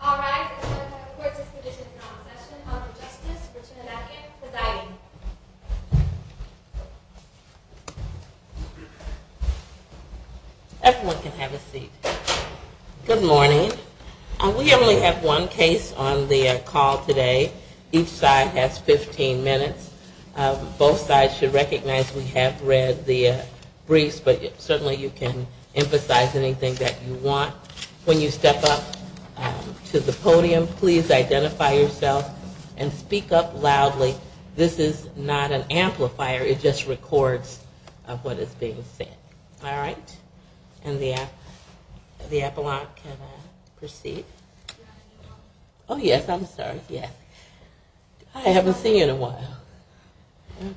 All rise and let us have a court-dispositioned non-session of the Justice Virginia Beckett presiding. Everyone can have a seat. Good morning. We only have one case on the call today. Each side has 15 minutes. Both sides should recognize we have read the briefs, but certainly you can emphasize anything that you want. When you step up to the podium, please identify yourself and speak up loudly. This is not an amplifier. It just records what is being said. All right. And the appellant can proceed. Yes, I'm sorry. I haven't seen you in a while.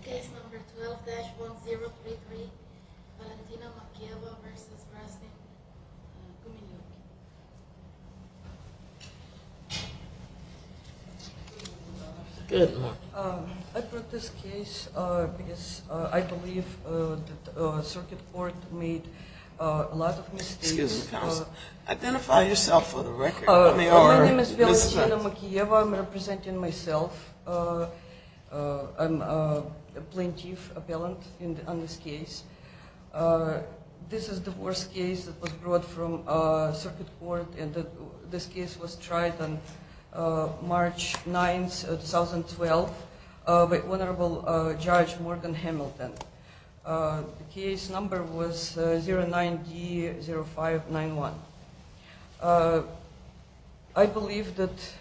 Case number 12-1033, Valentina Mokeyeva v. Gumenyuk. Good morning. I brought this case because I believe the circuit court made a lot of mistakes. Identify yourself for the record. My name is Valentina Mokeyeva. I'm representing myself. I'm a plaintiff appellant on this case. This is the worst case that was brought from circuit court, and this case was tried on March 9, 2012, by Honorable Judge Morgan Hamilton. The case number was 09D0591. I believe that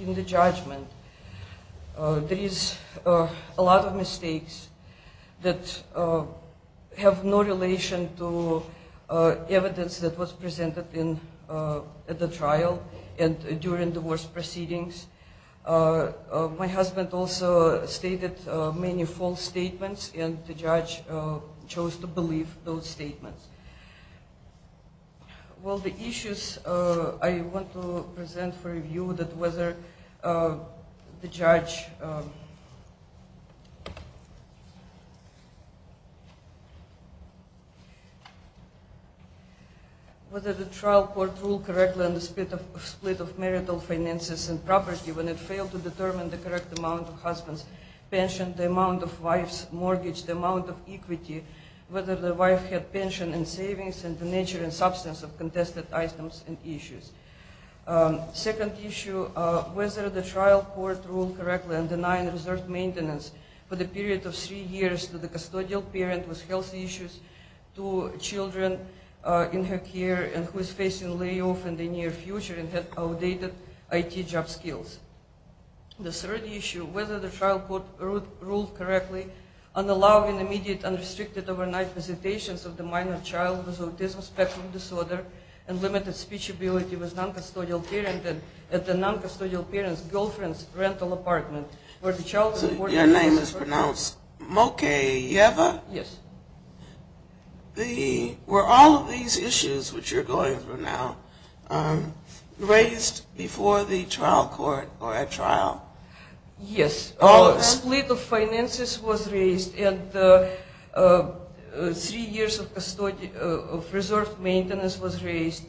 in the judgment, there is a lot of mistakes that have no relation to evidence that was presented at the trial and during the worst proceedings. My husband also stated many false statements, and the judge chose to believe those statements. Well, the issues I want to present for review, whether the trial court ruled correctly on the split of marital finances and property when it failed to determine the correct amount of husband's pension, the amount of wife's mortgage, the amount of equity, whether the wife had pension and savings, and the nature and substance of contested items and issues. Second issue, whether the trial court ruled correctly on denying reserved maintenance for the period of three years to the custodial parent with health issues to children in her care and who is facing layoff in the near future and has outdated IT job skills. The third issue, whether the trial court ruled correctly on allowing immediate unrestricted overnight visitations of the minor child with autism spectrum disorder and limited speech ability with non-custodial parent at the non-custodial parent's girlfriend's rental apartment. Your name is pronounced Mokeyeva? Yes. Were all of these issues which you're going through now raised before the trial court or at trial? Yes. Split of finances was raised and three years of reserved maintenance was raised.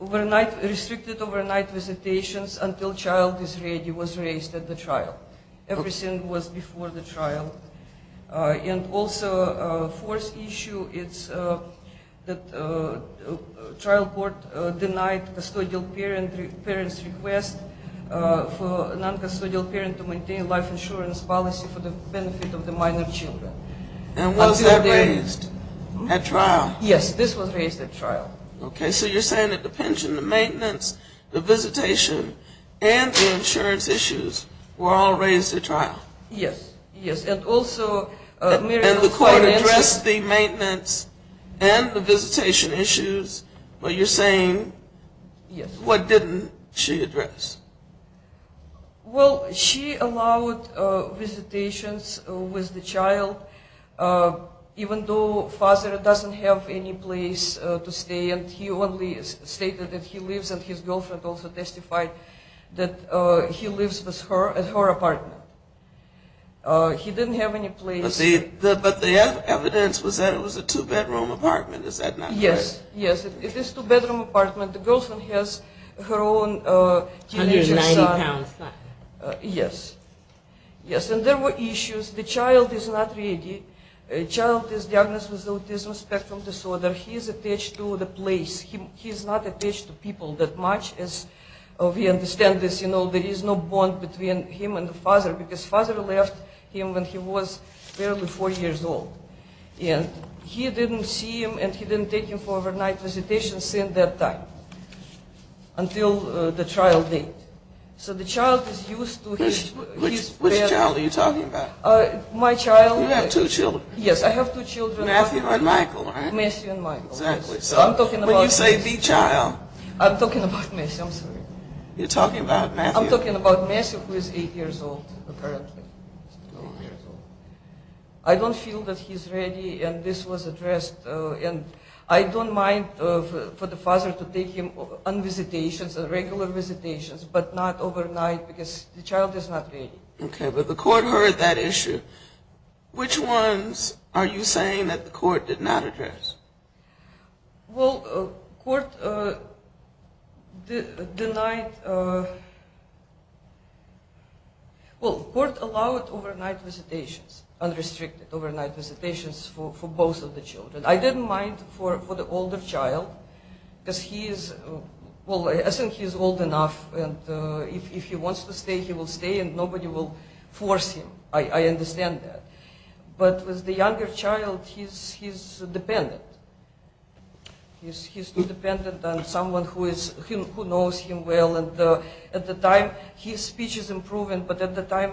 Restricted overnight visitations until child is ready was raised at the trial. Everything was before the trial. And also fourth issue, it's that trial court denied custodial parent's request for non-custodial parent to maintain life insurance policy for the benefit of the minor children. And was that raised at trial? Yes, this was raised at trial. Okay, so you're saying that the pension, the maintenance, the visitation, and the insurance issues were all raised at trial? Yes, yes. And also Mary- And the court addressed the maintenance and the visitation issues, but you're saying- Yes. What didn't she address? Well, she allowed visitations with the child even though father doesn't have any place to stay. And he only stated that he lives, and his girlfriend also testified that he lives with her at her apartment. He didn't have any place. But the evidence was that it was a two-bedroom apartment. Is that not correct? Yes, yes. It is a two-bedroom apartment. The girlfriend has her own teenage son. 190 pounds, not- Yes. Yes, and there were issues. The child is not ready. The child is diagnosed with autism spectrum disorder. He is attached to the place. He is not attached to people that much as we understand this. You know, there is no bond between him and the father because father left him when he was barely four years old. And he didn't see him and he didn't take him for overnight visitation since that time until the trial date. So the child is used to his- Which child are you talking about? My child- You have two children. Yes, I have two children. Matthew and Michael, right? Matthew and Michael. Exactly. So when you say the child- I'm talking about Matthew. I'm sorry. You're talking about Matthew. I'm talking about Matthew who is eight years old apparently. Eight years old. I don't feel that he's ready and this was addressed. And I don't mind for the father to take him on visitations, regular visitations, but not overnight because the child is not ready. Okay, but the court heard that issue. Which ones are you saying that the court did not address? Well, court denied- well, court allowed overnight visitations, unrestricted overnight visitations for both of the children. I didn't mind for the older child because he is- well, I think he's old enough and if he wants to stay, he will stay and nobody will force him. I understand that. But with the younger child, he's dependent. He's dependent on someone who knows him well and at the time his speech is improving, but at the time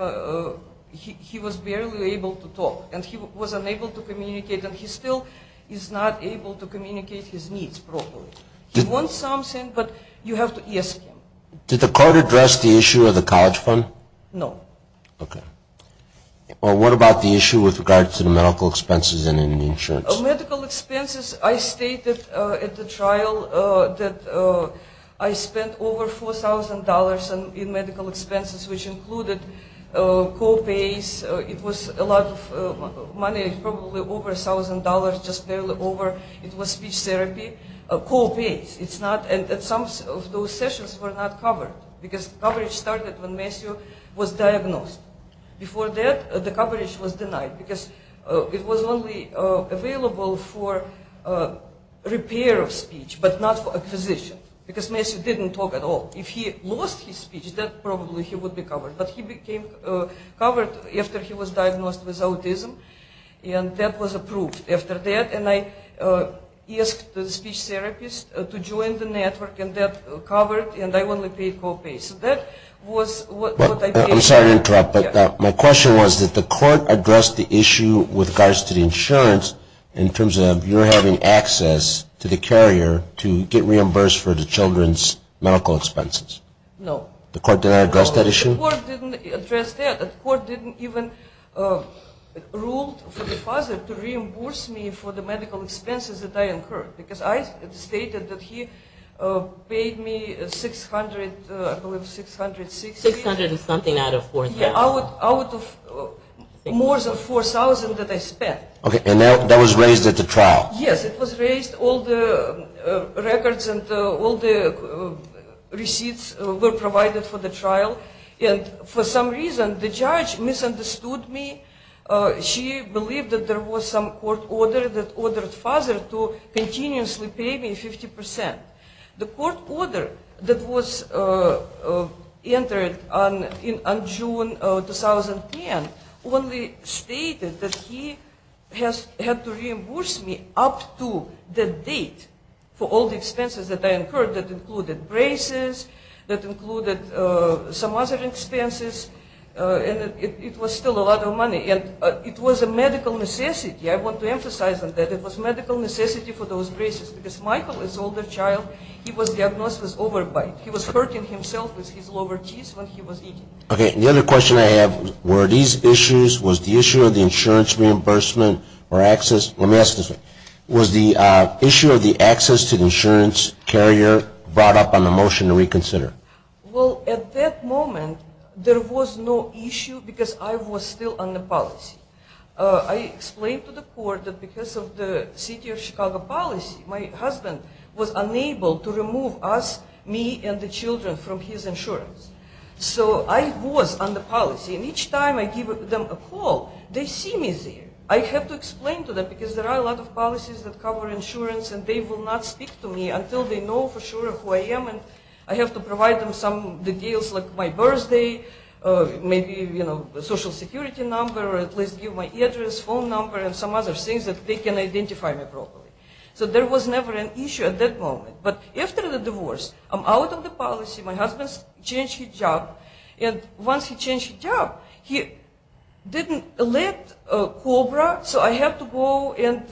he was barely able to talk and he was unable to communicate and he still is not able to communicate his needs properly. He wants something, but you have to ask him. Did the court address the issue of the college fund? No. Okay. Well, what about the issue with regard to the medical expenses and the insurance? Medical expenses, I stated at the trial that I spent over $4,000 in medical expenses, which included co-pays. It was a lot of money, probably over $1,000, just barely over. Some of those sessions were not covered because coverage started when Matthew was diagnosed. Before that, the coverage was denied because it was only available for repair of speech, but not for acquisition, because Matthew didn't talk at all. If he lost his speech, then probably he would be covered, but he became covered after he was diagnosed with autism and that was approved after that and I asked the speech therapist to join the network and that covered and I only paid co-pays, so that was what I paid. I'm sorry to interrupt, but my question was that the court addressed the issue with regards to the insurance in terms of your having access to the carrier to get reimbursed for the children's medical expenses. No. The court did not address that issue? No, the court didn't address that. The court didn't even rule for the father to reimburse me for the medical expenses that I incurred, because I stated that he paid me $600, I believe $660. $600 and something out of $4,000. Yeah, out of more than $4,000 that I spent. Okay, and that was raised at the trial? Yes, it was raised. All the records and all the receipts were provided for the trial and for some reason the judge misunderstood me. She believed that there was some court order that ordered father to continuously pay me 50%. The court order that was entered on June 2010 only stated that he had to reimburse me up to the date for all the expenses that I incurred that included braces, that included some other expenses, and it was still a lot of money. It was a medical necessity. I want to emphasize that it was a medical necessity for those braces because Michael is an older child. He was diagnosed with overbite. He was hurting himself with his lower teeth when he was eating. Okay, and the other question I have, were these issues, was the issue of the insurance reimbursement or access, let me ask this one, was the issue of the access to the insurance carrier brought up on the motion to reconsider? Well, at that moment there was no issue because I was still on the policy. I explained to the court that because of the city of Chicago policy, my husband was unable to remove us, me and the children from his insurance. So I was on the policy and each time I give them a call, they see me there. I have to explain to them because there are a lot of policies that cover insurance and they will not speak to me until they know for sure who I am and I have to provide them some details like my birthday, maybe, you know, a social security number or at least give my address, phone number and some other things that they can identify me properly. So there was never an issue at that moment. But after the divorce, I'm out of the policy. My husband changed his job and once he changed his job, he didn't let COBRA, so I had to go and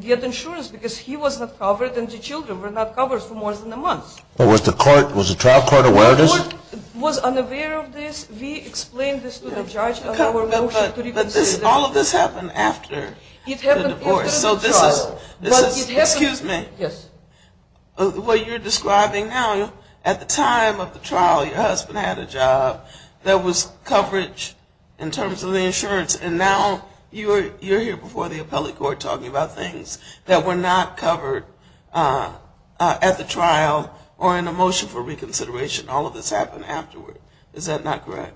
get insurance because he was not covered and the children were not covered for more than a month. Was the trial court aware of this? The court was unaware of this. We explained this to the judge on our motion to reconsider. But all of this happened after the divorce. It happened after the trial. Excuse me. Yes. What you're describing now, at the time of the trial, your husband had a job that was coverage in terms of the insurance and now you're here before the appellate court talking about things that were not covered at the trial or in a motion for reconsideration. All of this happened afterward. Is that not correct?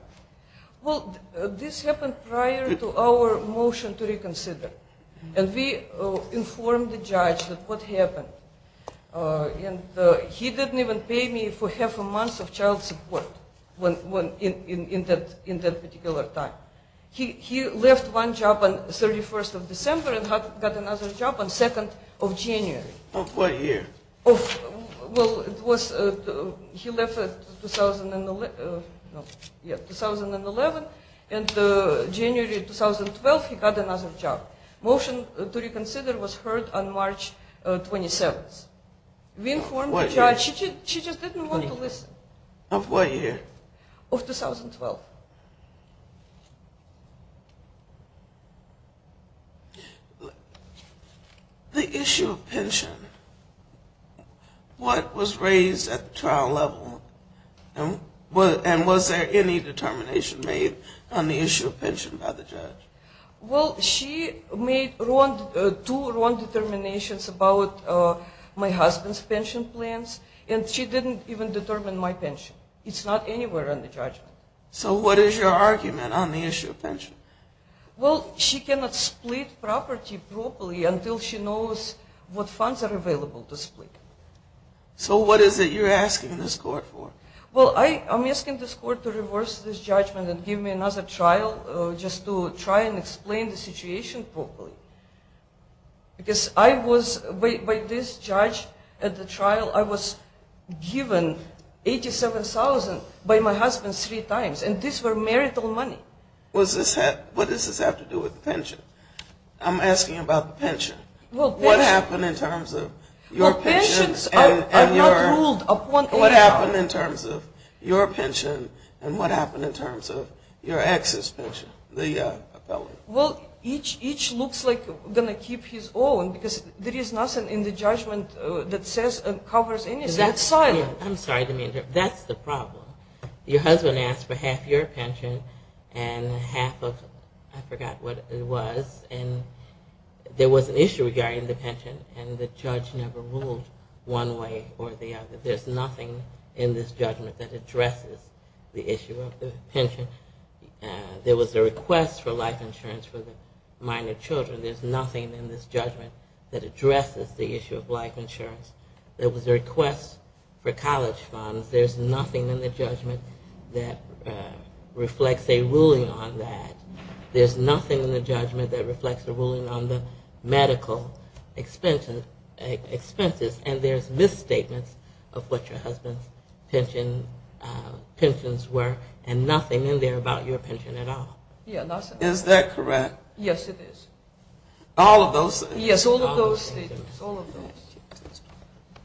Well, this happened prior to our motion to reconsider. And we informed the judge that what happened. And he didn't even pay me for half a month of child support in that particular time. He left one job on 31st of December and got another job on 2nd of January. Of what year? Well, it was 2011 and January 2012 he got another job. Motion to reconsider was heard on March 27th. We informed the judge. She just didn't want to listen. Of what year? Of 2012. The issue of pension, what was raised at the trial level? And was there any determination made on the issue of pension by the judge? Well, she made two wrong determinations about my husband's pension plans and she didn't even determine my pension. It's not anywhere on the judgment. So what is your argument on the issue of pension? Well, she cannot split property properly until she knows what funds are available to split. So what is it you're asking this court for? Well, I'm asking this court to reverse this judgment and give me another trial just to try and explain the situation properly. Because I was, by this judge at the trial, I was given $87,000 by my husband three times. And these were marital money. What does this have to do with pension? I'm asking about the pension. Well, pensions are not ruled upon age. What happened in terms of your pension and what happened in terms of your ex's pension? Well, each looks like going to keep his own because there is nothing in the judgment that says it covers anything. It's silent. I'm sorry to interrupt. That's the problem. Your husband asked for half your pension and half of, I forgot what it was, and there was an issue regarding the pension and the judge never ruled one way or the other. There's nothing in this judgment that addresses the issue of the pension. There was a request for life insurance for the minor children. There's nothing in this judgment that addresses the issue of life insurance. There was a request for college funds. There's nothing in the judgment that reflects a ruling on that. There's nothing in the judgment that reflects a ruling on the medical expenses. And there's misstatements of what your husband's pensions were and nothing in there about your pension at all. Is that correct? Yes, it is. All of those? Yes, all of those statements, all of those.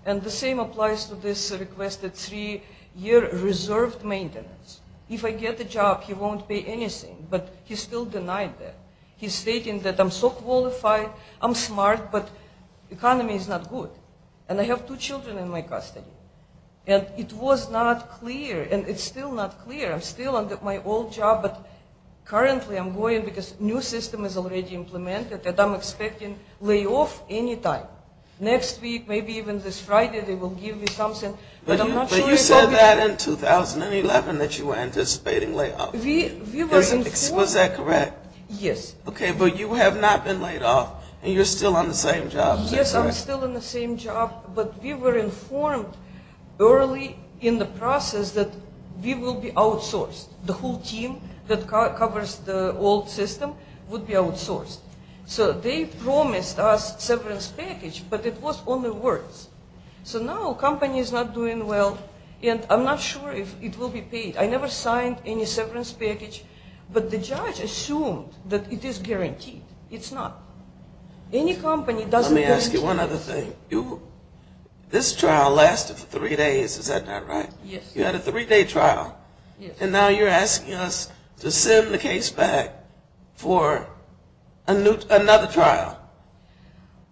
And the same applies to this requested three-year reserved maintenance. If I get the job, he won't pay anything, but he still denied that. He's stating that I'm so qualified, I'm smart, but economy is not good, and I have two children in my custody. And it was not clear, and it's still not clear. I'm still on my old job, but currently I'm going because a new system is already implemented that I'm expecting layoff any time. Next week, maybe even this Friday they will give me something. But you said that in 2011 that you were anticipating layoff. Was that correct? Yes. Okay, but you have not been laid off, and you're still on the same job. Yes, I'm still on the same job. But we were informed early in the process that we will be outsourced. The whole team that covers the old system would be outsourced. So they promised us severance package, but it was only words. So now the company is not doing well, and I'm not sure if it will be paid. I never signed any severance package, but the judge assumed that it is guaranteed. It's not. Let me ask you one other thing. This trial lasted for three days. Is that not right? Yes. You had a three-day trial. And now you're asking us to send the case back for another trial.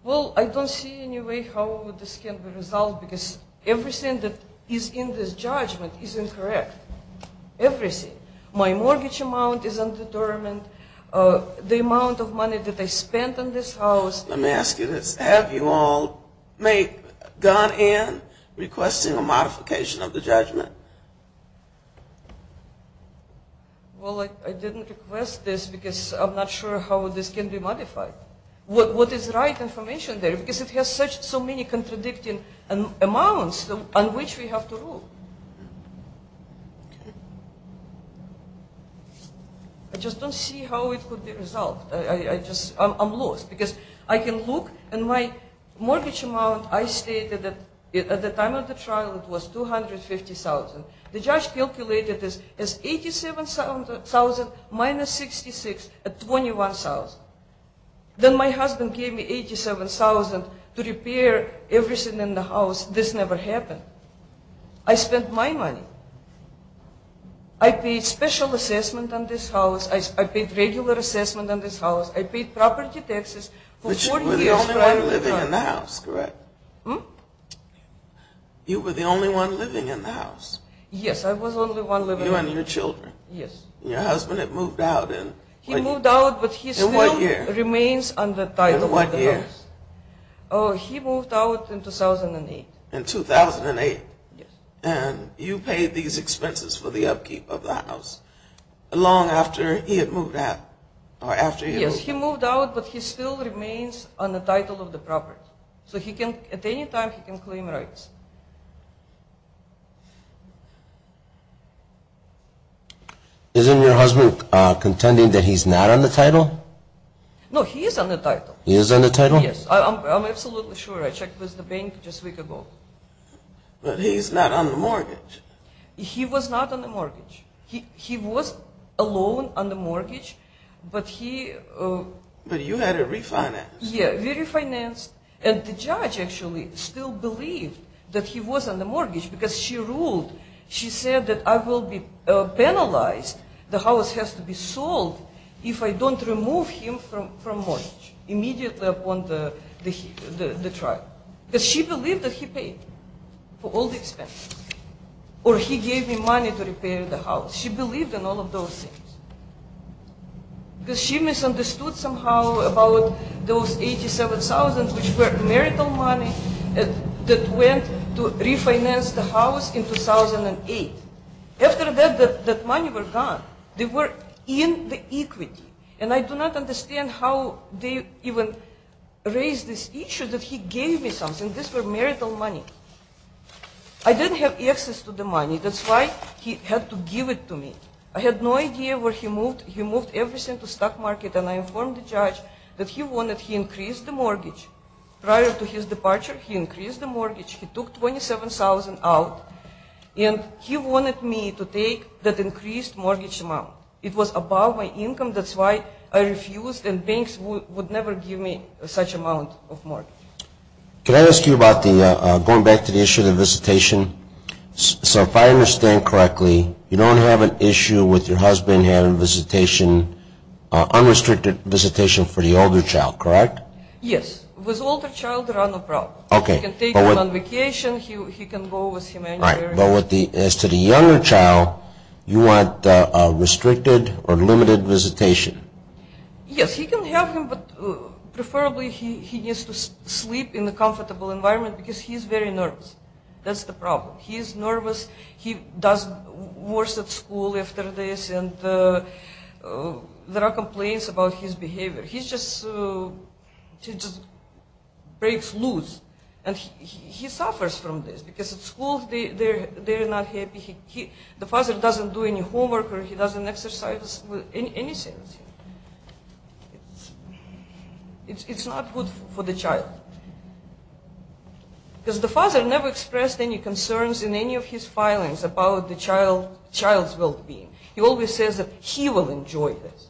Well, I don't see any way how this can be resolved because everything that is in this judgment is incorrect. Everything. My mortgage amount is undetermined. The amount of money that I spent on this house. Let me ask you this. Have you all gone in requesting a modification of the judgment? Well, I didn't request this because I'm not sure how this can be modified. What is the right information there? Because it has so many contradicting amounts on which we have to rule. Okay. I just don't see how it could be resolved. I'm lost because I can look, and my mortgage amount I stated at the time of the trial was $250,000. The judge calculated this as $87,000 minus $66,000 at $21,000. Then my husband gave me $87,000 to repair everything in the house. This never happened. I spent my money. I paid special assessment on this house. I paid regular assessment on this house. I paid property taxes. But you were the only one living in the house, correct? Hmm? You were the only one living in the house. Yes, I was the only one living in the house. You and your children. Yes. He moved out, but he still remains on the title of the house. In what year? Oh, he moved out in 2008. In 2008? Yes. And you paid these expenses for the upkeep of the house long after he had moved out? Yes, he moved out, but he still remains on the title of the property. So at any time he can claim rights. Isn't your husband contending that he's not on the title? No, he is on the title. He is on the title? Yes. I'm absolutely sure. I checked with the bank just a week ago. But he's not on the mortgage. He was not on the mortgage. He was alone on the mortgage, but he... But you had it refinanced. Yeah, refinanced. And the judge actually still believed that he was on the mortgage because she ruled. She said that I will be penalized. The house has to be sold if I don't remove him from mortgage immediately upon the trial. Because she believed that he paid for all the expenses. Or he gave me money to repair the house. She believed in all of those things. Because she misunderstood somehow about those $87,000, which were marital money, that went to refinance the house in 2008. After that, that money was gone. They were in the equity. And I do not understand how they even raised this issue that he gave me something. This was marital money. I didn't have access to the money. That's why he had to give it to me. I had no idea where he moved everything to stock market. And I informed the judge that he wanted to increase the mortgage. Prior to his departure, he increased the mortgage. He took $27,000 out. And he wanted me to take that increased mortgage amount. It was above my income. That's why I refused. And banks would never give me such amount of mortgage. Can I ask you about going back to the issue of the visitation? So if I understand correctly, you don't have an issue with your husband having visitation, unrestricted visitation for the older child, correct? Yes. With older child, there are no problems. Okay. He can take him on vacation. He can go with him anywhere. Right. But as to the younger child, you want restricted or limited visitation. Yes, he can have them, but preferably he needs to sleep in a comfortable environment because he's very nervous. That's the problem. He's nervous. He does worse at school after this. And there are complaints about his behavior. He just breaks loose. And he suffers from this because at school they're not happy. The father doesn't do any homework or he doesn't exercise in any sense. It's not good for the child. Because the father never expressed any concerns in any of his filings about the child's well-being. He always says that he will enjoy this.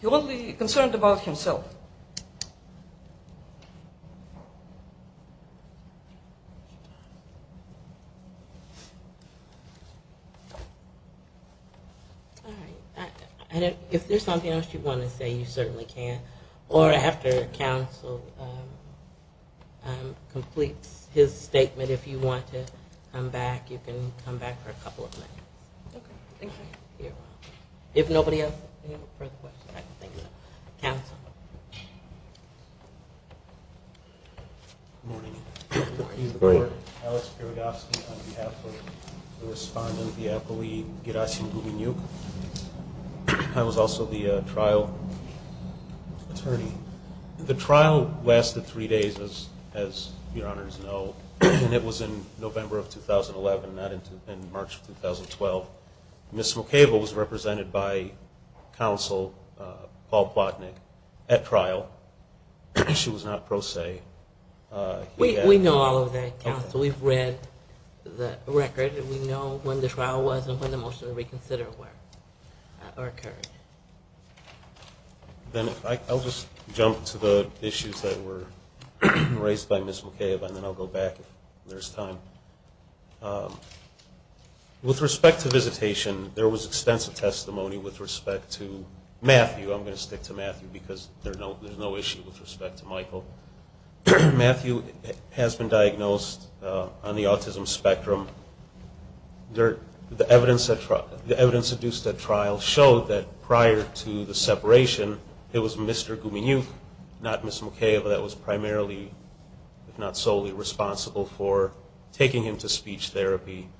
He won't be concerned about himself. All right. If there's something else you want to say, you certainly can. Or after counsel completes his statement, if you want to come back, you can come back for a couple of minutes. Okay. Thank you. If nobody else has any further questions, I think so. Counsel. Good morning. Good morning. I'm Alex Pirodovsky on behalf of the respondent, the appellee, Gerasim Dubinyuk. I was also the trial attorney. The trial lasted three days, as your honors know. And it was in November of 2011, not in March of 2012. Ms. McCable was represented by counsel, Paul Plotnick, at trial. She was not pro se. We know all of that, counsel. We've read the record, and we know when the trial was and when the motion to reconsider occurred. I'll just jump to the issues that were raised by Ms. McCable, and then I'll go back if there's time. With respect to visitation, there was extensive testimony with respect to Matthew. I'm going to stick to Matthew because there's no issue with respect to Michael. Matthew has been diagnosed on the autism spectrum. The evidence induced at trial showed that prior to the separation, it was Mr. Dubinyuk, not Ms. McCable, that was primarily, if not solely, responsible for taking him to speech therapy.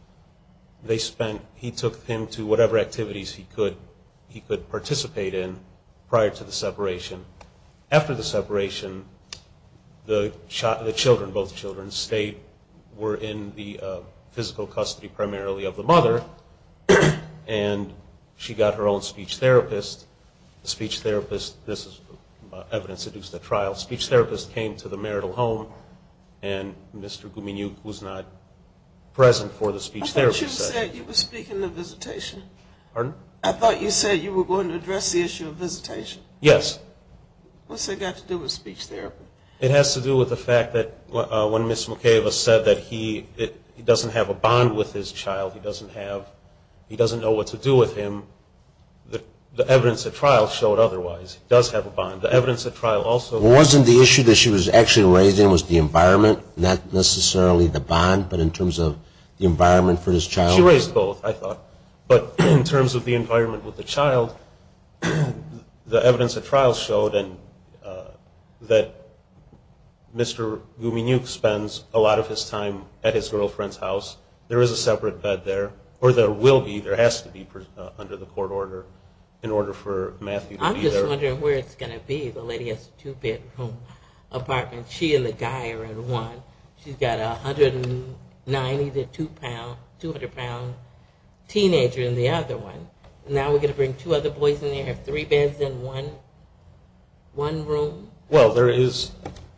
He took him to whatever activities he could participate in prior to the separation. After the separation, the children, both children, were in the physical custody primarily of the mother, and she got her own speech therapist. The speech therapist, this is evidence induced at trial, speech therapist came to the marital home, and Mr. Dubinyuk was not present for the speech therapy session. I thought you said you were speaking of visitation. Pardon? I thought you said you were going to address the issue of visitation. Yes. What's that got to do with speech therapy? It has to do with the fact that when Ms. McCable said that he doesn't have a bond with his child, he doesn't have, he doesn't know what to do with him, the evidence at trial showed otherwise. He does have a bond. The evidence at trial also. Wasn't the issue that she was actually raising was the environment, not necessarily the bond, but in terms of the environment for his child? She raised both, I thought. But in terms of the environment with the child, the evidence at trial showed that Mr. Dubinyuk spends a lot of his time at his girlfriend's house. There is a separate bed there, or there will be, there has to be under the court order in order for Matthew to be there. I'm just wondering where it's going to be. The lady has a two-bedroom apartment. She and the guy are in one. She's got a 190 to 200-pound teenager in the other one. Now we're going to bring two other boys in there and have three beds in one room? Well, there is.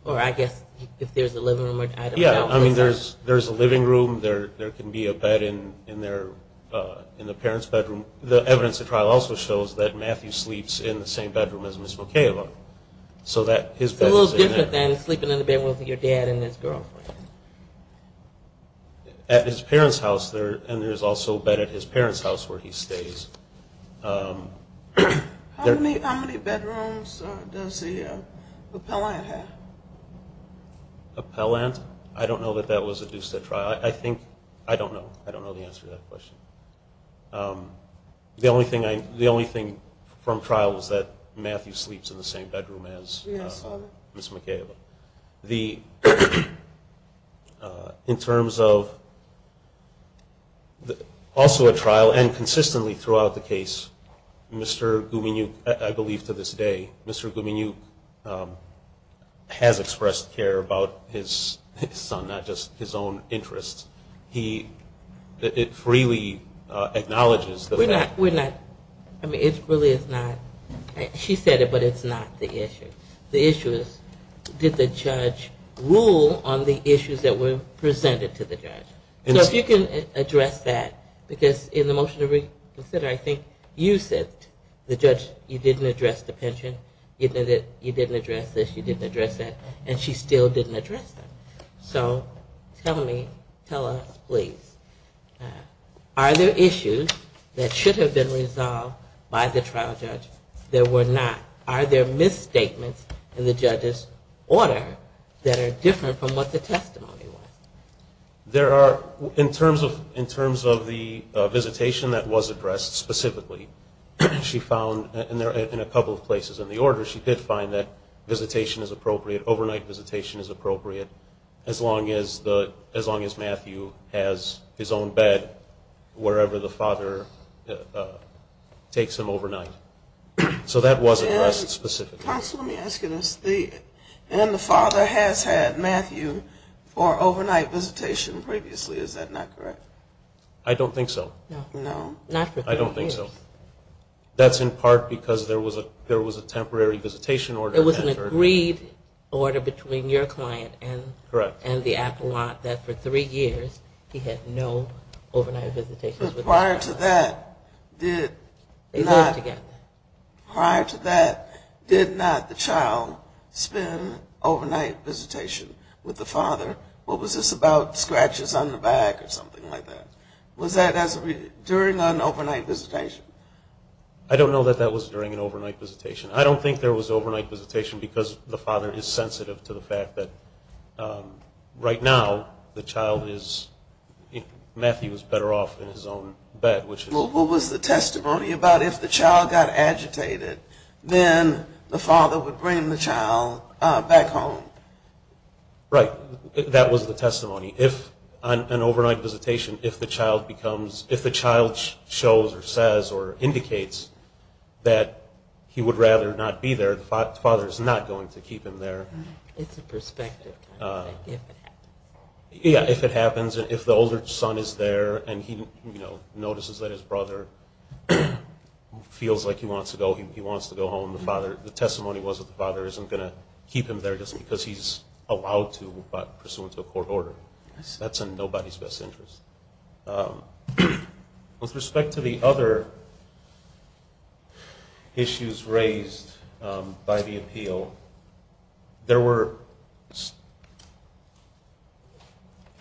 Or I guess if there's a living room. Yeah, I mean, there's a living room. There can be a bed in the parents' bedroom. The evidence at trial also shows that Matthew sleeps in the same bedroom as Ms. McCable. So his bed is in there. But then sleeping in the bedroom with your dad and his girlfriend. At his parents' house, and there's also a bed at his parents' house where he stays. How many bedrooms does the appellant have? Appellant? I don't know that that was adduced at trial. I don't know. I don't know the answer to that question. The only thing from trial was that Matthew sleeps in the same bedroom as Ms. McCable. In terms of also at trial and consistently throughout the case, Mr. Gumenyuk, I believe to this day, Mr. Gumenyuk has expressed care about his son, not just his own interests. It freely acknowledges the fact. We're not. I mean, it really is not. She said it, but it's not the issue. The issue is did the judge rule on the issues that were presented to the judge? So if you can address that, because in the motion to reconsider, I think you said, the judge, you didn't address the pension. You didn't address this. You didn't address that. And she still didn't address that. So tell me, tell us, please, are there issues that should have been resolved by the trial judge that were not? Are there misstatements in the judge's order that are different from what the testimony was? There are, in terms of the visitation that was addressed specifically, she found in a couple of places in the order she did find that visitation is appropriate, as long as Matthew has his own bed wherever the father takes him overnight. So that was addressed specifically. Counsel, let me ask you this. And the father has had Matthew for overnight visitation previously. Is that not correct? I don't think so. No? Not for three years. I don't think so. That's in part because there was a temporary visitation order. It was an agreed order between your client and the appellant that for three years he had no overnight visitation. Prior to that, did not the child spend overnight visitation with the father? Or was this about scratches on the back or something like that? Was that during an overnight visitation? I don't know that that was during an overnight visitation. I don't think there was overnight visitation because the father is sensitive to the fact that right now the child is Matthew is better off in his own bed. What was the testimony about if the child got agitated, then the father would bring the child back home? Right. That was the testimony. An overnight visitation, if the child shows or says or indicates that he would rather not be there, the father is not going to keep him there. It's a perspective. Yeah, if it happens. If the older son is there and he notices that his brother feels like he wants to go, he wants to go home, the testimony was that the father isn't going to keep him there just because he's allowed to but pursuant to a court order. That's in nobody's best interest. With respect to the other issues raised by the appeal, there were...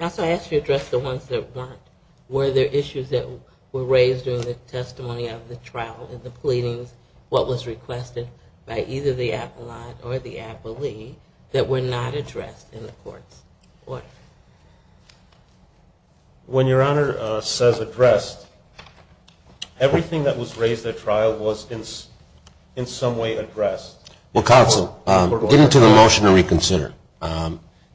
I asked you to address the ones that weren't. Were there issues that were raised during the testimony of the trial in the pleadings, what was requested by either the appellant or the appellee that were not addressed in the court's order? When Your Honor says addressed, everything that was raised at trial was in some way addressed. Well, counsel, get into the motion to reconsider.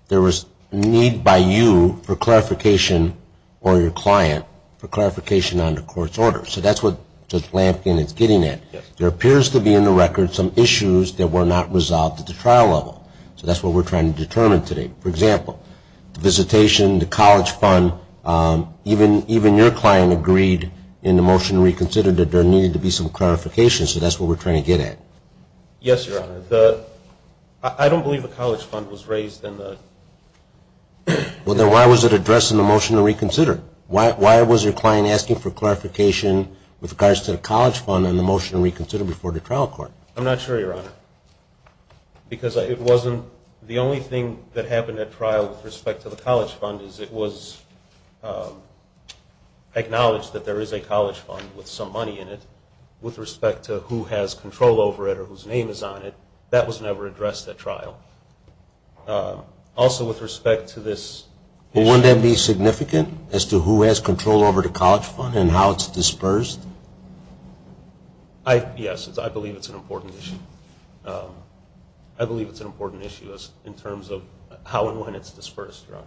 There was need by you for clarification or your client for clarification on the court's order. So that's what Judge Lampkin is getting at. There appears to be in the record some issues that were not resolved at the trial level. So that's what we're trying to determine today. For example, the visitation, the college fund, even your client agreed in the motion to reconsider that there needed to be some clarification, so that's what we're trying to get at. Yes, Your Honor. I don't believe the college fund was raised in the... Well, then why was it addressed in the motion to reconsider? Why was your client asking for clarification with regards to the college fund in the motion to reconsider before the trial court? I'm not sure, Your Honor, because it wasn't... The only thing that happened at trial with respect to the college fund is it was acknowledged that there is a college fund with some money in it. With respect to who has control over it or whose name is on it, that was never addressed at trial. Also, with respect to this... Wouldn't that be significant as to who has control over the college fund and how it's dispersed? Yes, I believe it's an important issue. I believe it's an important issue in terms of how and when it's dispersed, Your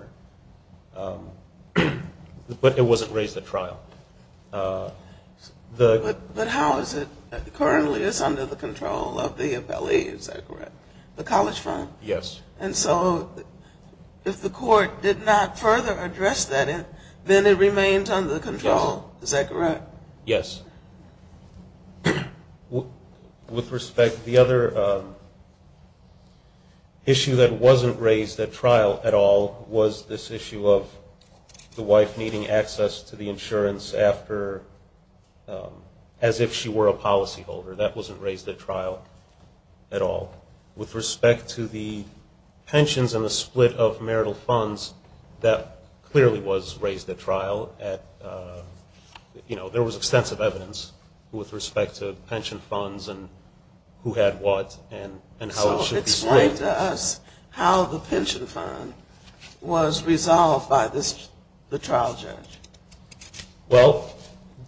Honor. But it wasn't raised at trial. But how is it currently is under the control of the appellee, is that correct? The college fund? Yes. And so if the court did not further address that, then it remains under control, is that correct? Yes. Yes. With respect, the other issue that wasn't raised at trial at all was this issue of the wife needing access to the insurance as if she were a policyholder. That wasn't raised at trial at all. With respect to the pensions and the split of marital funds, that clearly was raised at trial. There was extensive evidence with respect to pension funds and who had what and how it should be split. So explain to us how the pension fund was resolved by the trial judge. Well,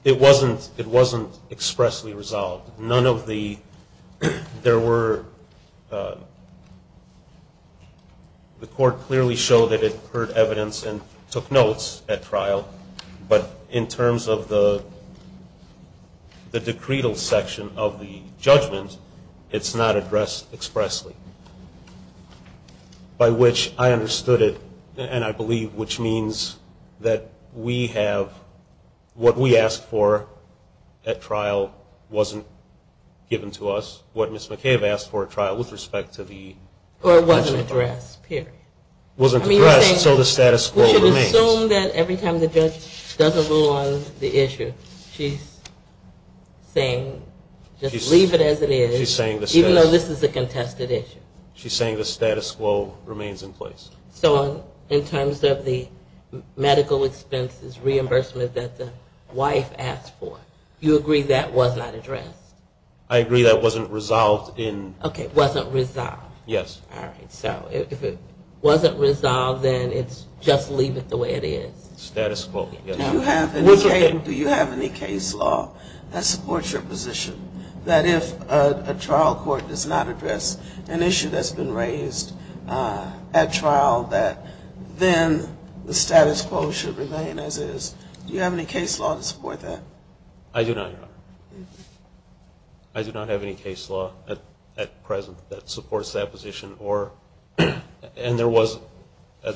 it wasn't expressly resolved. None of the – there were – the court clearly showed that it heard evidence and took notes at trial. But in terms of the decretal section of the judgment, it's not addressed expressly, by which I understood it and I believe which means that we have – what we asked for at trial wasn't given to us, what Ms. McHale asked for at trial with respect to the pension fund. Or it wasn't addressed, period. It wasn't addressed, so the status quo remains. We should assume that every time the judge doesn't rule on the issue, she's saying just leave it as it is, even though this is a contested issue. She's saying the status quo remains in place. So in terms of the medical expenses reimbursement that the wife asked for, you agree that was not addressed? I agree that wasn't resolved in – Okay, wasn't resolved. Yes. All right. So if it wasn't resolved, then it's just leave it the way it is. Status quo, yes. Do you have any case law that supports your position that if a trial court does not address an issue that's been raised at trial that then the status quo should remain as is? Do you have any case law to support that? I do not, Your Honor. I do not have any case law at present that supports that position or – and there was a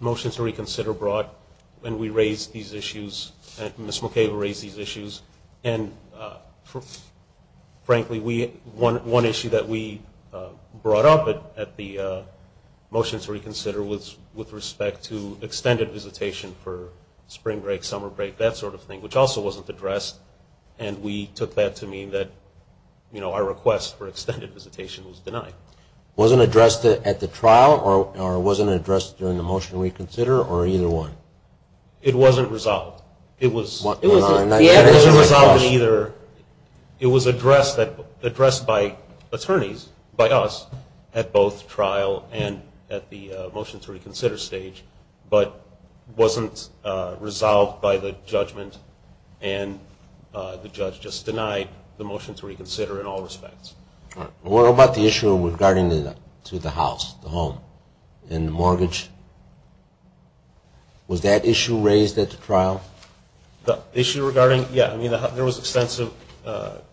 motion to reconsider brought and we raised these issues and Ms. McHale raised these issues. And frankly, one issue that we brought up at the motion to reconsider was with respect to extended visitation for spring break, summer break, that sort of thing, which also wasn't addressed. And we took that to mean that our request for extended visitation was denied. It wasn't addressed at the trial or it wasn't addressed during the motion to reconsider or either one? It wasn't resolved. It was addressed by attorneys, by us, at both trial and at the motion to reconsider stage, but wasn't resolved by the judgment and the judge just denied the motion to reconsider in all respects. All right. What about the issue regarding to the house, the home and the mortgage? Was that issue raised at the trial? The issue regarding – yeah, I mean there was extensive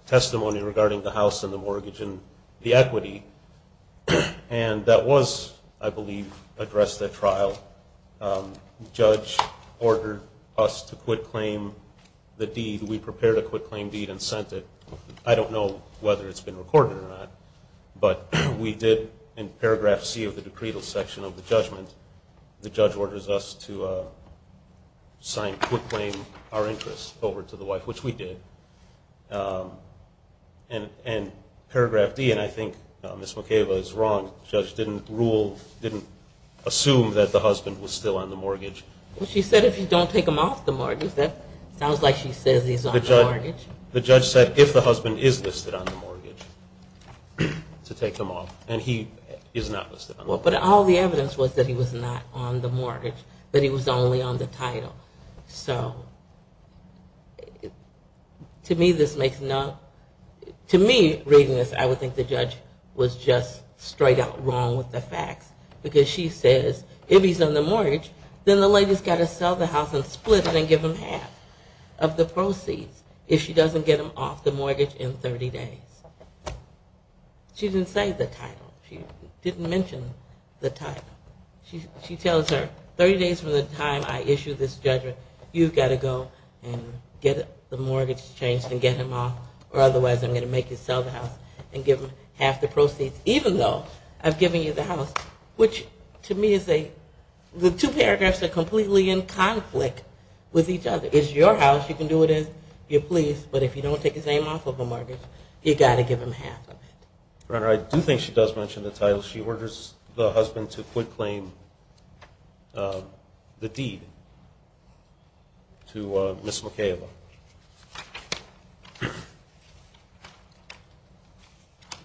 testimony regarding the house and the mortgage and the equity and that was, I believe, addressed at trial. The judge ordered us to quit claim the deed. We prepared a quit claim deed and sent it. I don't know whether it's been recorded or not, but we did in paragraph C of the decreed section of the judgment. The judge orders us to sign quit claim, our interest, over to the wife, which we did. And paragraph D, and I think Ms. McAva is wrong, the judge didn't rule, didn't assume that the husband was still on the mortgage. Well, she said if you don't take him off the mortgage. That sounds like she says he's on the mortgage. The judge said if the husband is listed on the mortgage to take him off. And he is not listed on the mortgage. Well, but all the evidence was that he was not on the mortgage, that he was only on the title. So to me, this makes no – to me, reading this, I would think the judge was just straight out wrong with the facts because she says if he's on the mortgage, then the lady's got to sell the house and split it and give him half of the proceeds if she doesn't get him off the mortgage in 30 days. She didn't say the title. She didn't mention the title. She tells her 30 days from the time I issue this judgment, you've got to go and get the mortgage changed and get him off, or otherwise I'm going to make you sell the house and give him half the proceeds, even though I've given you the house. Which to me is a – the two paragraphs are completely in conflict with each other. It's your house. You can do it as you please, but if you don't take his name off of the mortgage, you've got to give him half of it. Your Honor, I do think she does mention the title. She orders the husband to quit claim the deed to Ms. McKayla.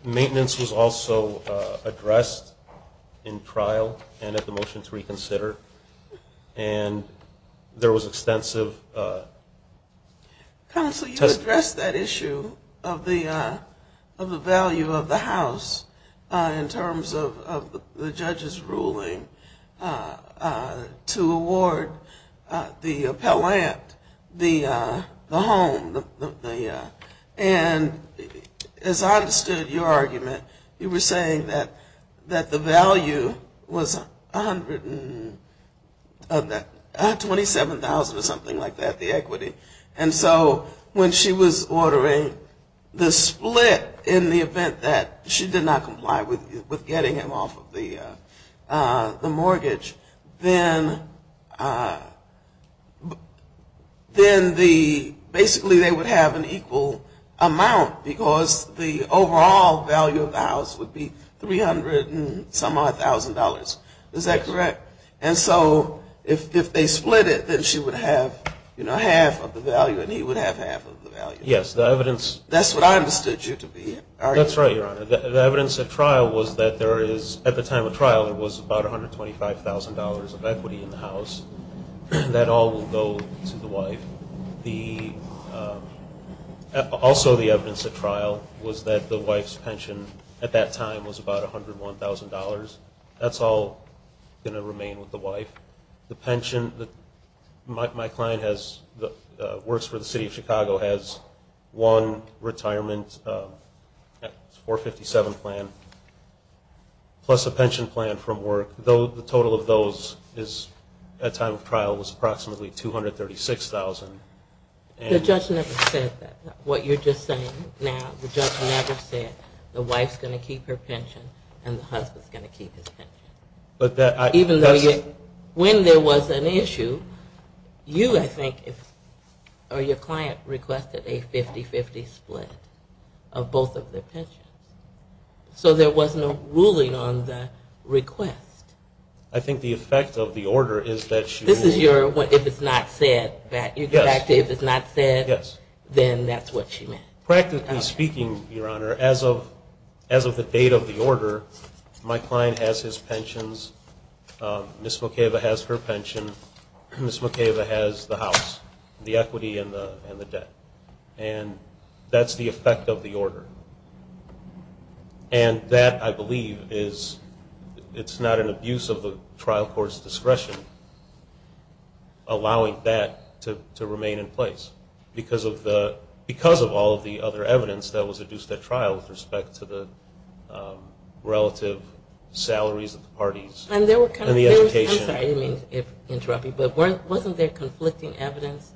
Maintenance was also addressed in trial and at the motion to reconsider, and there was extensive – Counsel, you addressed that issue of the value of the house in terms of the judge's ruling to award the appellant the home, and as I understood your argument, you were saying that the value was $127,000 or something like that, the equity. And so when she was ordering the split in the event that she did not comply with getting him off of the mortgage, then basically they would have an equal amount because the overall value of the house would be $300,000 and some odd thousand dollars. Is that correct? And so if they split it, then she would have half of the value and he would have half of the value. Yes, the evidence – That's what I understood you to be arguing. That's right, Your Honor. The evidence at trial was that there is – at the time of trial, there was about $125,000 of equity in the house. That all will go to the wife. Also the evidence at trial was that the wife's pension at that time was about $101,000. That's all going to remain with the wife. My client works for the City of Chicago, has one retirement, 457 plan, plus a pension plan from work. The total of those at the time of trial was approximately $236,000. The judge never said that, what you're just saying now. The judge never said the wife's going to keep her pension and the husband's going to keep his pension. Even though you – when there was an issue, you, I think, or your client requested a 50-50 split of both of their pensions. So there was no ruling on the request. I think the effect of the order is that she – This is your – if it's not said, you go back to if it's not said, then that's what she meant. Practically speaking, Your Honor, as of the date of the order, my client has his pensions, Ms. Makeva has her pension, Ms. Makeva has the house, the equity and the debt. And that's the effect of the order. And that, I believe, is – it's not an abuse of the trial court's discretion, allowing that to remain in place because of the – because of all of the other evidence that was adduced at trial with respect to the relative salaries of the parties and the education. I'm sorry to interrupt you, but wasn't there conflicting evidence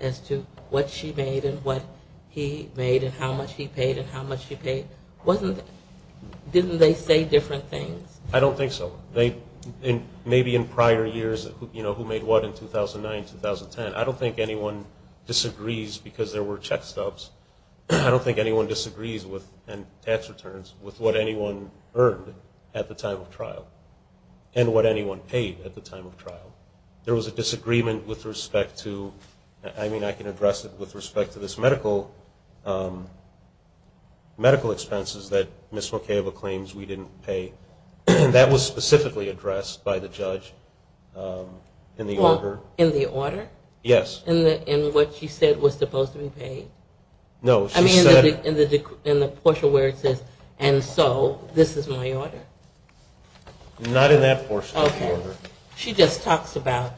as to what she made and what he made and how much he paid and how much she paid? Wasn't – didn't they say different things? I don't think so. Maybe in prior years, you know, who made what in 2009, 2010. I don't think anyone disagrees because there were check stubs. I don't think anyone disagrees with – and tax returns – with what anyone earned at the time of trial and what anyone paid at the time of trial. There was a disagreement with respect to – I mean, I can address it with respect to this medical expenses that Ms. Makeva claims we didn't pay. That was specifically addressed by the judge in the order. Yes. In what she said was supposed to be paid? No, she said – I mean, in the portion where it says, and so this is my order. Not in that portion of the order. Okay. She just talks about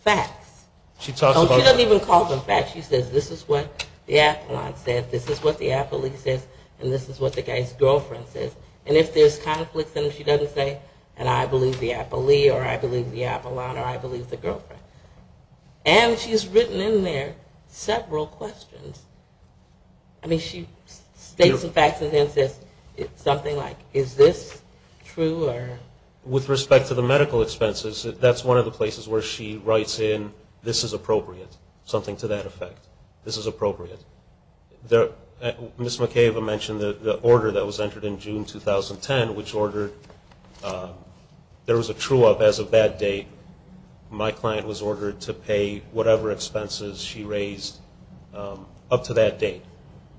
facts. She talks about – Oh, she doesn't even call them facts. She says, this is what the appellant said, this is what the appellee says, and this is what the guy's girlfriend says. And if there's conflict, then she doesn't say, and I believe the appellee or I believe the appellant or I believe the girlfriend. And she's written in there several questions. I mean, she states the facts and then says something like, is this true or – With respect to the medical expenses, that's one of the places where she writes in, this is appropriate, something to that effect. This is appropriate. Ms. Makeva mentioned the order that was entered in June 2010, which ordered there was a true-up as a bad date. My client was ordered to pay whatever expenses she raised up to that date.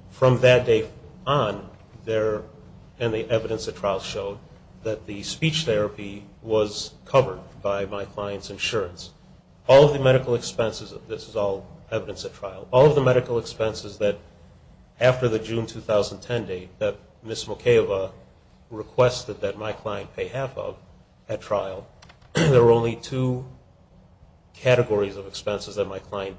From that date on, there – and the evidence at trial showed that the speech therapy was covered by my client's insurance. All of the medical expenses – this is all evidence at trial. All of the medical expenses that after the June 2010 date that Ms. Makeva requested that my client pay half of at trial, there were only two categories of expenses that my client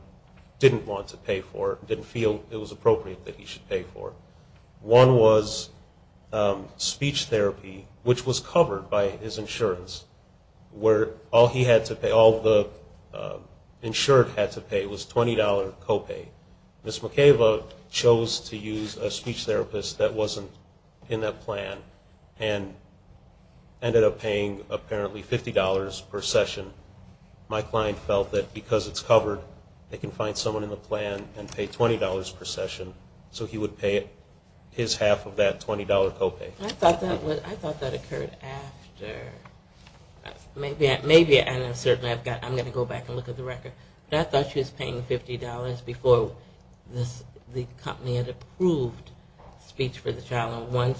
didn't want to pay for, didn't feel it was appropriate that he should pay for. One was speech therapy, which was covered by his insurance, where all he had to pay, all the insured had to pay was $20 co-pay. Ms. Makeva chose to use a speech therapist that wasn't in that plan and ended up paying apparently $50 per session. My client felt that because it's covered, they can find someone in the plan and pay $20 per session so he would pay his half of that $20 co-pay. I thought that occurred after. Maybe, and I'm going to go back and look at the record. But I thought she was paying $50 before the company had approved speech for the child. Once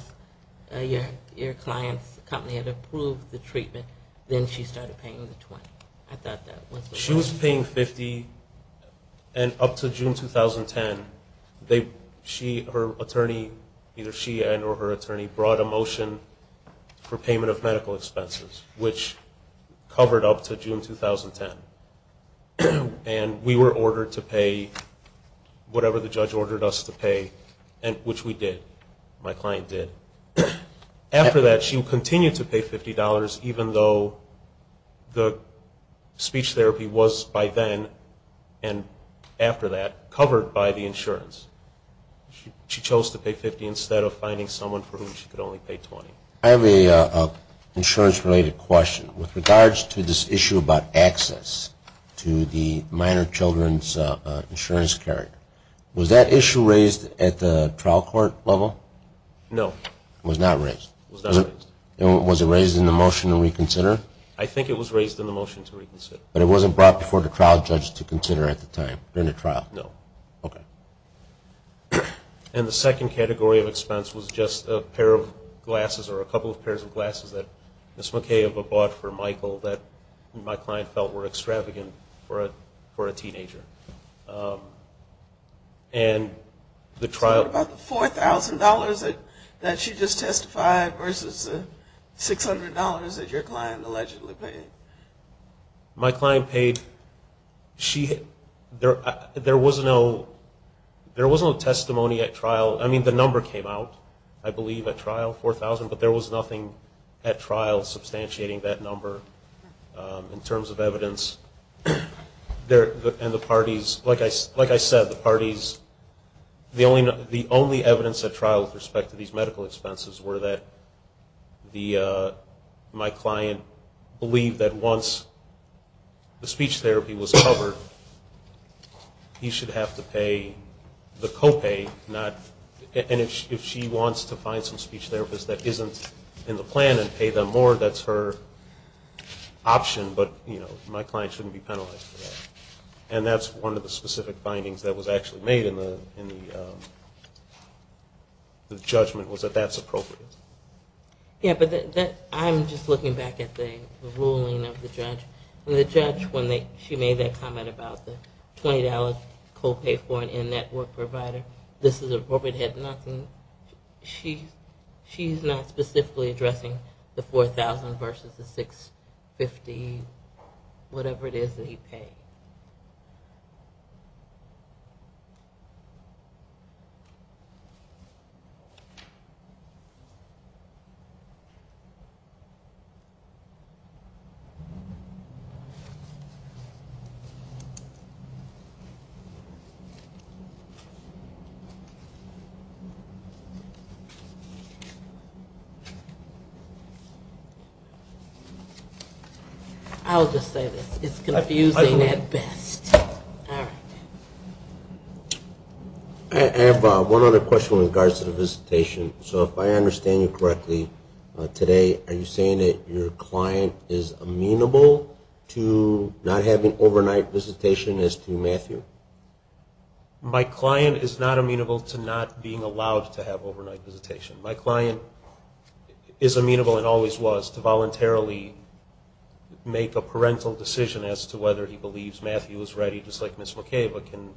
your client's company had approved the treatment, then she started paying the $20. She was paying $50, and up to June 2010, either she and or her attorney brought a motion for payment of medical expenses, which covered up to June 2010. We were ordered to pay whatever the judge ordered us to pay, which we did. My client did. After that, she continued to pay $50 even though the speech therapy was by then and after that covered by the insurance. She chose to pay $50 instead of finding someone for whom she could only pay $20. I have an insurance-related question. With regards to this issue about access to the minor children's insurance card, was that issue raised at the trial court level? No. It was not raised? It was not raised. Was it raised in the motion to reconsider? I think it was raised in the motion to reconsider. But it wasn't brought before the trial judge to consider at the time during the trial? No. Okay. One of the things that Ms. McKay bought for Michael that my client felt were extravagant for a teenager. What about the $4,000 that she just testified versus the $600 that your client allegedly paid? My client paid – there was no testimony at trial. I mean, the number came out, I believe, at trial, $4,000, but there was nothing at trial substantiating that number in terms of evidence. And the parties – like I said, the parties – the only evidence at trial with respect to these medical expenses were that my client believed that once the speech therapy was covered, he should have to pay the co-pay, not – if he wasn't in the plan and pay them more, that's her option, but my client shouldn't be penalized for that. And that's one of the specific findings that was actually made in the judgment, was that that's appropriate. Yeah, but I'm just looking back at the ruling of the judge. And the judge, when she made that comment about the $20 co-pay for an in-network provider, this is appropriate head-knocking. She's not specifically addressing the $4,000 versus the $650, whatever it is that he paid. I'll just say this. It's confusing at best. All right. I have one other question with regards to the visitation. So if I understand you correctly today, are you saying that your client is amenable to not having overnight visitation as to Matthew? My client is not amenable to not being allowed to have overnight visitation. My client is amenable, and always was, to voluntarily make a parental decision as to whether he believes Matthew is ready, just like Ms. McAva can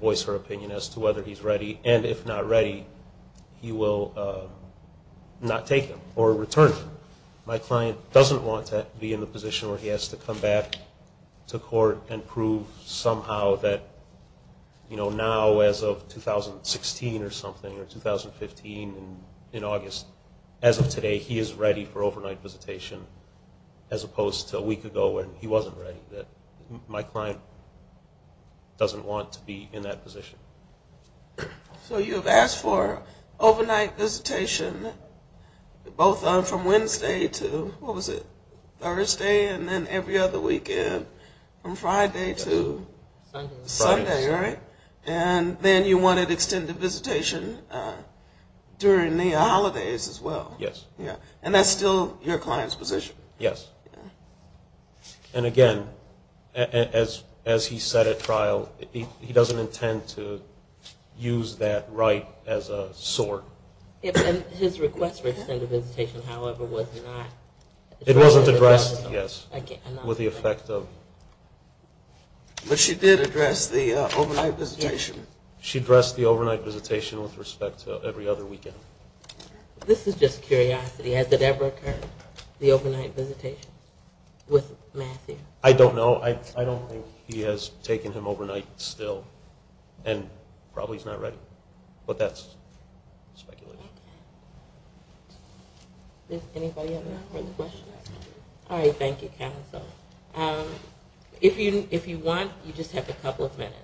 voice her opinion as to whether he's ready. And if not ready, he will not take him or return him. My client doesn't want to be in the position where he has to come back to court and prove somehow that now, as of 2016 or something, or 2015, in August, as of today, he is ready for overnight visitation, as opposed to a week ago when he wasn't ready. My client doesn't want to be in that position. So you have asked for overnight visitation both from Wednesday to, what was it, Thursday, and then every other weekend from Friday to Sunday, right? And then you wanted extended visitation during the holidays as well. Yes. And that's still your client's position? Yes. And again, as he said at trial, he doesn't intend to use that right as a sort. And his request for extended visitation, however, was not addressed? It wasn't addressed, yes, with the effect of... But she did address the overnight visitation. She addressed the overnight visitation with respect to every other weekend. This is just curiosity. Has it ever occurred, the overnight visitation with Matthew? I don't know. I don't think he has taken him overnight still, and probably he's not ready. But that's speculation. Okay. Does anybody have any further questions? All right, thank you, counsel. If you want, you just have a couple of minutes.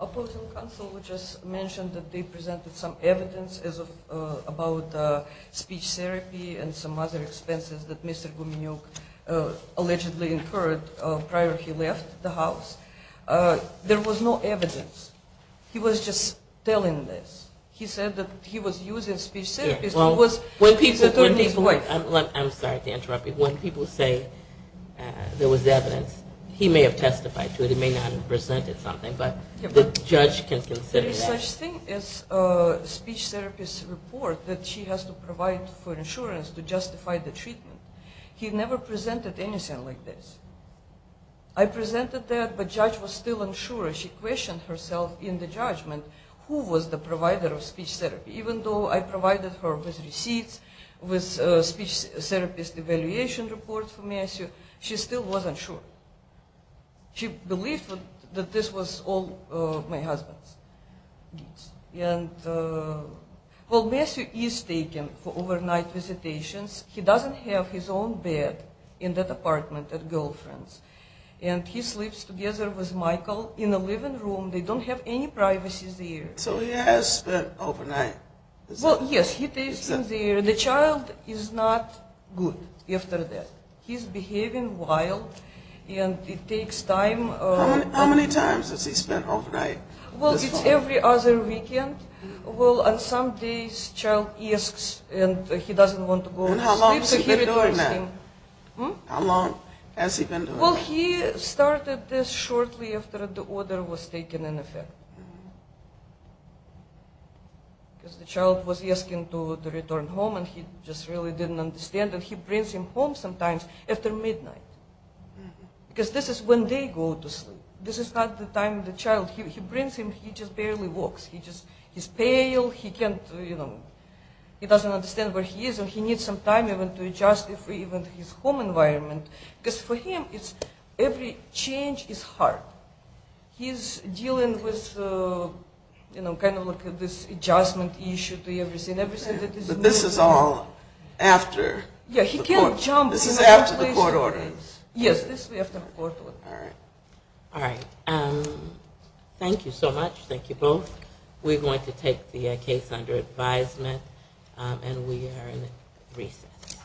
Opposing counsel just mentioned that they presented some evidence about speech therapy and some other expenses that Mr. Gumenyuk allegedly incurred prior he left the house. There was no evidence. He was just telling this. He said that he was using speech therapy. I'm sorry to interrupt you. When people say there was evidence, he may have testified to it. He may not have presented something, but the judge can consider that. One such thing is speech therapist report that she has to provide for insurance to justify the treatment. He never presented anything like this. I presented that, but judge was still unsure. She questioned herself in the judgment who was the provider of speech therapy. Even though I provided her with receipts, with speech therapist evaluation report for Matthew, she still wasn't sure. She believed that this was all my husband's deeds. Well, Matthew is taken for overnight visitations. He doesn't have his own bed in that apartment at Girlfriend's. And he sleeps together with Michael in the living room. They don't have any privacies there. So he has spent overnight. Well, yes, he stays in there. The child is not good after that. He's behaving wild, and it takes time. How many times does he spend overnight? Well, it's every other weekend. Well, on some days, child asks, and he doesn't want to go to sleep, so he returns him. How long has he been doing that? Well, he started this shortly after the order was taken in effect. Because the child was asking to return home, and he just really didn't understand. And he brings him home sometimes after midnight. Because this is when they go to sleep. This is not the time of the child. He brings him, he just barely walks. He's pale. He can't, you know, he doesn't understand where he is, and he needs some time even to adjust to his home environment. Because for him, every change is hard. He's dealing with, you know, kind of like this adjustment issue to everything. But this is all after the court. This is after the court order. Yes, this is after the court order. All right. All right. Thank you so much. Thank you both. We're going to take the case under advisement, and we are in recess.